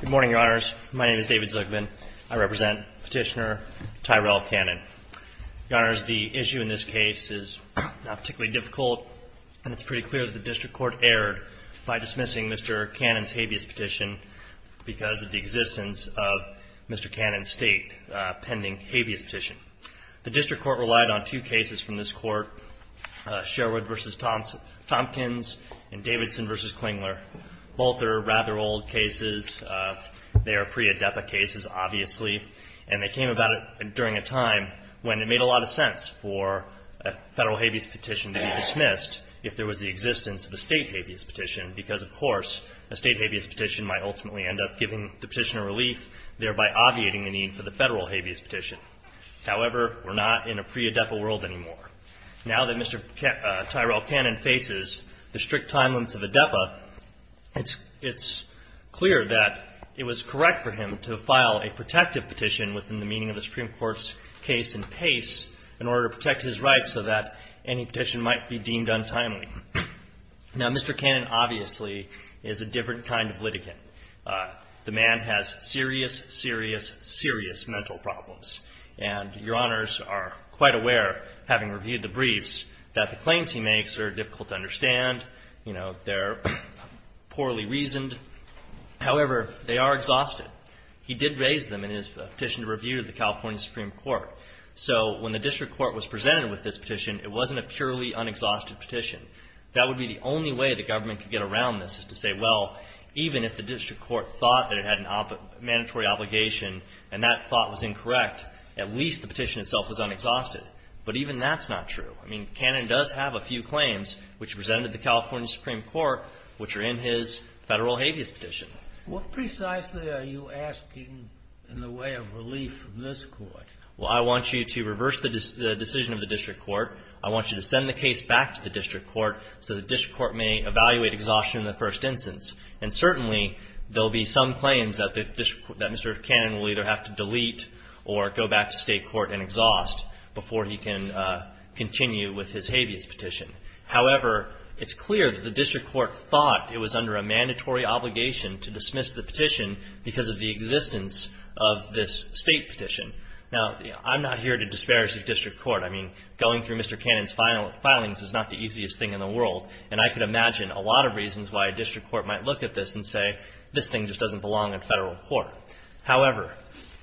Good morning, Your Honors. My name is David Zuckman. I represent Petitioner Tyrell Cannon. Your Honors, the issue in this case is not particularly difficult, and it's pretty clear that the District Court erred by dismissing Mr. Cannon's habeas petition because of the existence of Mr. Cannon's State pending habeas petition. The District Court relied on two cases from this Court, Sherwood v. Tompkins and Davidson v. Klingler. Both are rather old cases. They are pre-ADEPA cases, obviously. And they came about during a time when it made a lot of sense for a Federal habeas petition to be dismissed if there was the existence of a State habeas petition because, of course, a State habeas petition might ultimately end up giving the petitioner relief, thereby obviating the need for the petition to be dismissed. However, we're not in a pre-ADEPA world anymore. Now that Mr. Tyrell Cannon faces the strict time limits of ADEPA, it's clear that it was correct for him to file a protective petition within the meaning of the Supreme Court's case and pace in order to protect his rights so that any petition might be deemed untimely. Now, Mr. Cannon obviously is a different kind of litigant. The man has serious, serious, serious mental problems. And Your Honors are quite aware, having reviewed the briefs, that the claims he makes are difficult to understand. You know, they're poorly reasoned. However, they are exhausted. He did raise them in his petition to review to the California Supreme Court. So when the district court was presented with this petition, it wasn't a purely unexhausted petition. That would be the only way the government could get around this is to say, well, even if the district court thought that it had a mandatory obligation and that thought was incorrect, at least the petition itself was unexhausted. But even that's not true. I mean, Cannon does have a few claims which he presented to the California Supreme Court which are in his Federal habeas petition. What precisely are you asking in the way of relief from this Court? Well, I want you to reverse the decision of the district court. I want you to send the case back to the district court so the district court may evaluate exhaustion in the first instance. And certainly, there will be some claims that Mr. Cannon will either have to delete or go back to State court and exhaust before he can continue with his habeas petition. However, it's clear that the district court thought it was under a mandatory obligation to dismiss the petition because of the existence of this State petition. Now, I'm not here to disparage the district court. I mean, going through Mr. Cannon's filings is not the easiest thing in the world. And I could imagine a lot of reasons why a district court might look at this and say, this thing just doesn't belong in Federal court. However,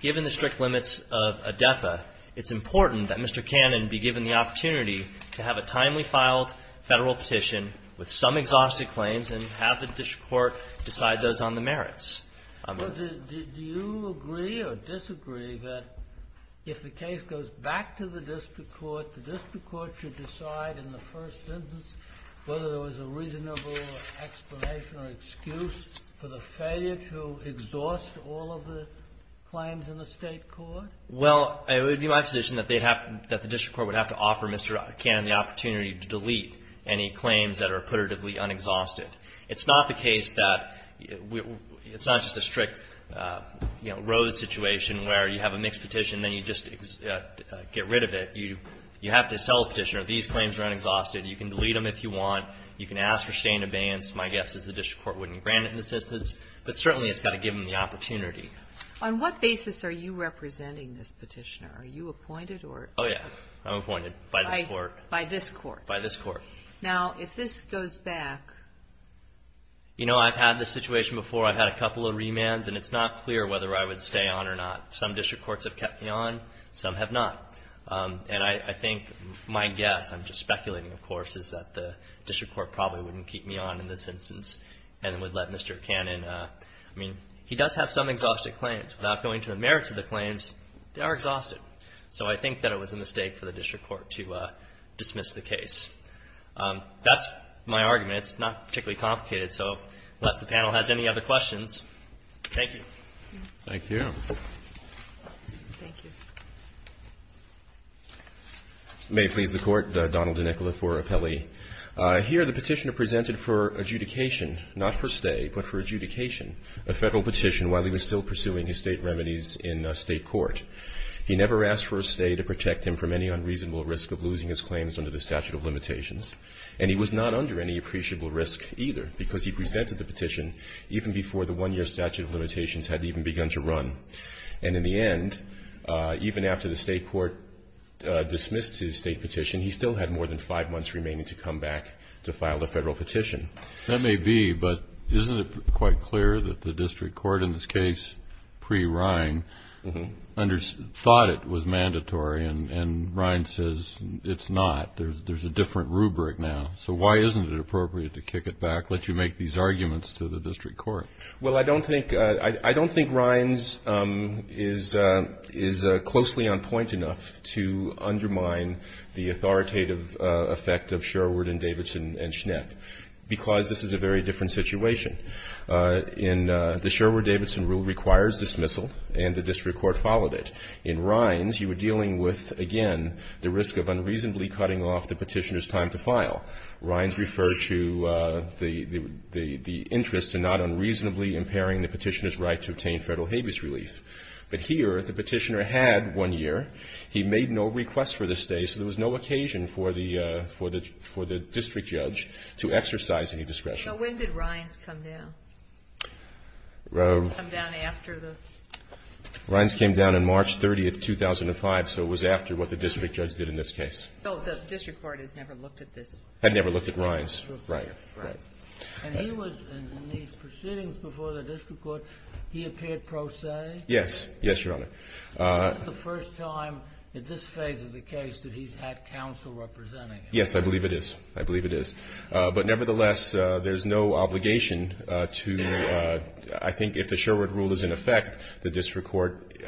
given the strict limits of ADEPA, it's important that Mr. Cannon be given the opportunity to have a timely file Federal petition with some exhaustive claims and have the district court decide those on the merits. I'm not going to do that. Do you agree or disagree that if the case goes back to the district court, the district court should decide in the first instance whether there was a reasonable explanation or excuse for the failure to exhaust all of the claims in the State court? Well, it would be my position that they'd have to, that the district court would have to offer Mr. Cannon the opportunity to delete any claims that are putatively unexhausted. It's not the case that it's not just a strict, you know, Rose situation where you have a mixed petition and then you just get rid of it. You have to sell a petitioner. These claims are unexhausted. You can delete them if you want. You can ask for stained abeyance. My guess is the district court wouldn't grant an assistance. But certainly, it's got to give him the opportunity. On what basis are you representing this petitioner? Are you appointed or? Oh, yeah. I'm appointed by the court. By this court. By this court. Now, if this goes back. You know, I've had this situation before. I've had a couple of remands, and it's not clear whether I would stay on or not. Some district courts have kept me on. Some have not. And I think my guess, I'm just speculating, of course, is that the district court probably wouldn't keep me on in this instance and would let Mr. Cannon. I mean, he does have some exhausted claims. Without going to the merits of the claims, they are exhausted. So I think that it was a mistake for the district court to dismiss the case. That's my argument. It's not particularly complicated. So unless the panel has any other questions, thank you. Thank you. Thank you. May it please the Court, Donald DeNicola for appellee. Here, the Petitioner presented for adjudication, not for stay, but for adjudication a Federal petition while he was still pursuing his State remedies in State court. He never asked for a stay to protect him from any unreasonable risk of losing his claims under the statute of limitations. And he was not under any appreciable risk either, because he presented the petition even before the one-year statute of limitations had even begun to run. And in the end, even after the State court dismissed his State petition, he still had more than five months remaining to come back to file the Federal petition. That may be, but isn't it quite clear that the district court in this case, pre-Rine, thought it was mandatory, and Rine says it's not? There's a different rubric now. So why isn't it appropriate to kick it back, let you make these arguments to the district court? Well, I don't think Rine's is closely on point enough to undermine the authoritative effect of Sherwood and Davidson and Schnepp, because this is a very different situation. In the Sherwood-Davidson rule requires dismissal, and the district court followed it. In Rine's, you were dealing with, again, the risk of unreasonably cutting off the Petitioner's time to file. Rine's referred to the interest in not unreasonably impairing the Petitioner's right to obtain Federal habeas relief. But here, the Petitioner had one year. He made no request for this day, so there was no occasion for the district judge to exercise any discretion. So when did Rine's come down? It came down after the ---- Rine's came down on March 30, 2005, so it was after what the district judge did in this case. So the district court has never looked at this? Had never looked at Rine's. Right. Right. And he was in these proceedings before the district court, he appeared pro se? Yes. Yes, Your Honor. Is this the first time in this phase of the case that he's had counsel representing him? Yes, I believe it is. I believe it is. But nevertheless, there's no obligation to ---- I think if the Sherwood rule is in effect, the district court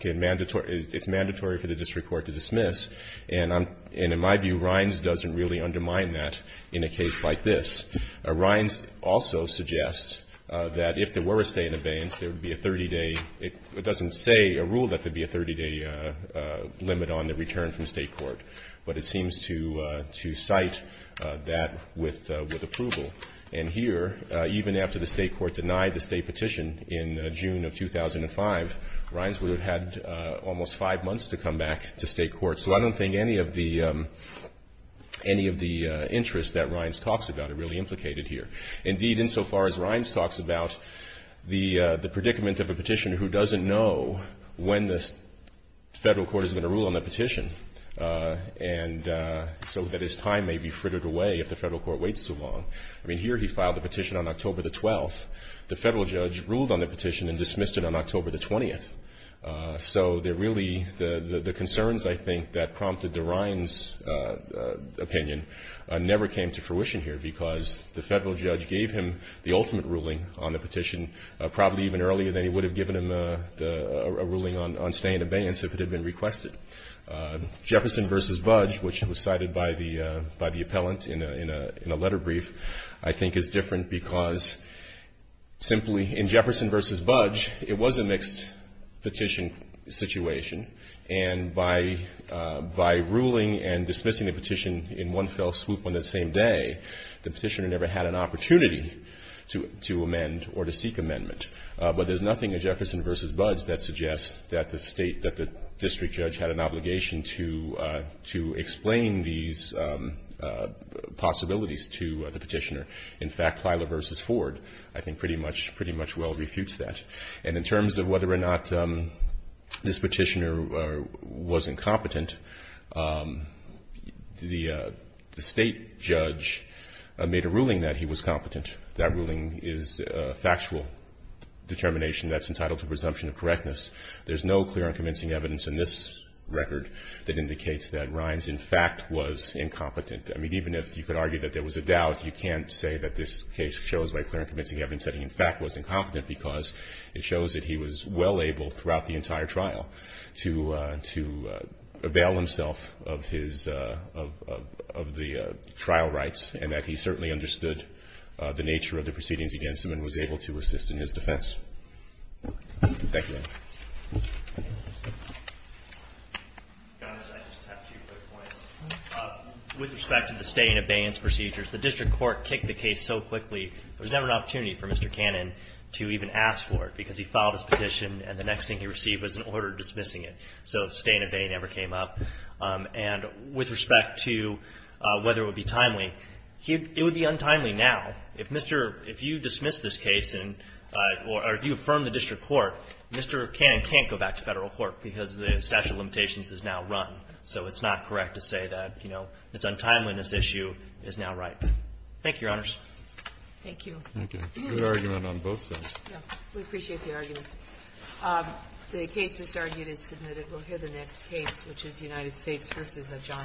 can mandatory ---- it's mandatory for the district court to dismiss. And I'm ---- and in my view, Rine's doesn't really undermine that in a case like this. Rine's also suggests that if there were a stay in abeyance, there would be a 30-day ---- it doesn't say a rule that there'd be a 30-day limit on the return from state court, but it seems to cite that with approval. And here, even after the state court denied the stay petition in June of 2005, Rine's would have had almost five months to come back to state court. So I don't think any of the interest that Rine's talks about are really implicated here. Indeed, insofar as Rine's talks about the predicament of a petitioner who doesn't know when the federal court is going to rule on the petition, and so that his time may be frittered away if the federal court waits too long. I mean, here he filed the petition on October the 12th. The federal judge ruled on the petition and dismissed it on October the 20th. So there really ---- the concerns, I think, that prompted the Rine's opinion never came to fruition here because the federal judge gave him the ultimate ruling on the petition probably even earlier than he would have given him a ruling on stay and abeyance if it had been requested. Jefferson v. Budge, which was cited by the appellant in a letter brief, I think is different because simply in Jefferson v. Budge, it was a mixed petition situation. And by ruling and dismissing a petition in one fell swoop on the same day, the petitioner never had an opportunity to amend or to seek amendment. But there's nothing in Jefferson v. Budge that suggests that the state, that the district judge had an obligation to explain these possibilities to the petitioner. In fact, Plyler v. Ford, I think, pretty much well refutes that. And in terms of whether or not this petitioner was incompetent, the state judge made a ruling that he was competent. That ruling is a factual determination that's entitled to presumption of correctness. There's no clear and convincing evidence in this record that indicates that Rine's, in fact, was incompetent. I mean, even if you could argue that there was a doubt, you can't say that this case shows by clear and convincing evidence that he, in fact, was incompetent because it shows that he was well able throughout the entire trial to avail himself of his, of the trial rights and that he certainly understood the nature of the proceedings against him and was able to assist in his defense. Thank you. With respect to the stay-in-abeyance procedures, the district court kicked the case so quickly, there was never an opportunity for Mr. Cannon to even ask for it because he filed his petition and the next thing he received was an order dismissing it. So stay-in-abeyance never came up. And with respect to whether it would be timely, it would be untimely now. If Mr. — if you dismiss this case or if you affirm the district court, Mr. Cannon can't go back to Federal court because the statute of limitations is now run. So it's not correct to say that, you know, this untimeliness issue is now right. Thank you, Your Honors. Thank you. Thank you. Good argument on both sides. We appreciate the arguments. The case just argued is submitted. We'll hear the next case, which is United States v. Adjana. Thank you.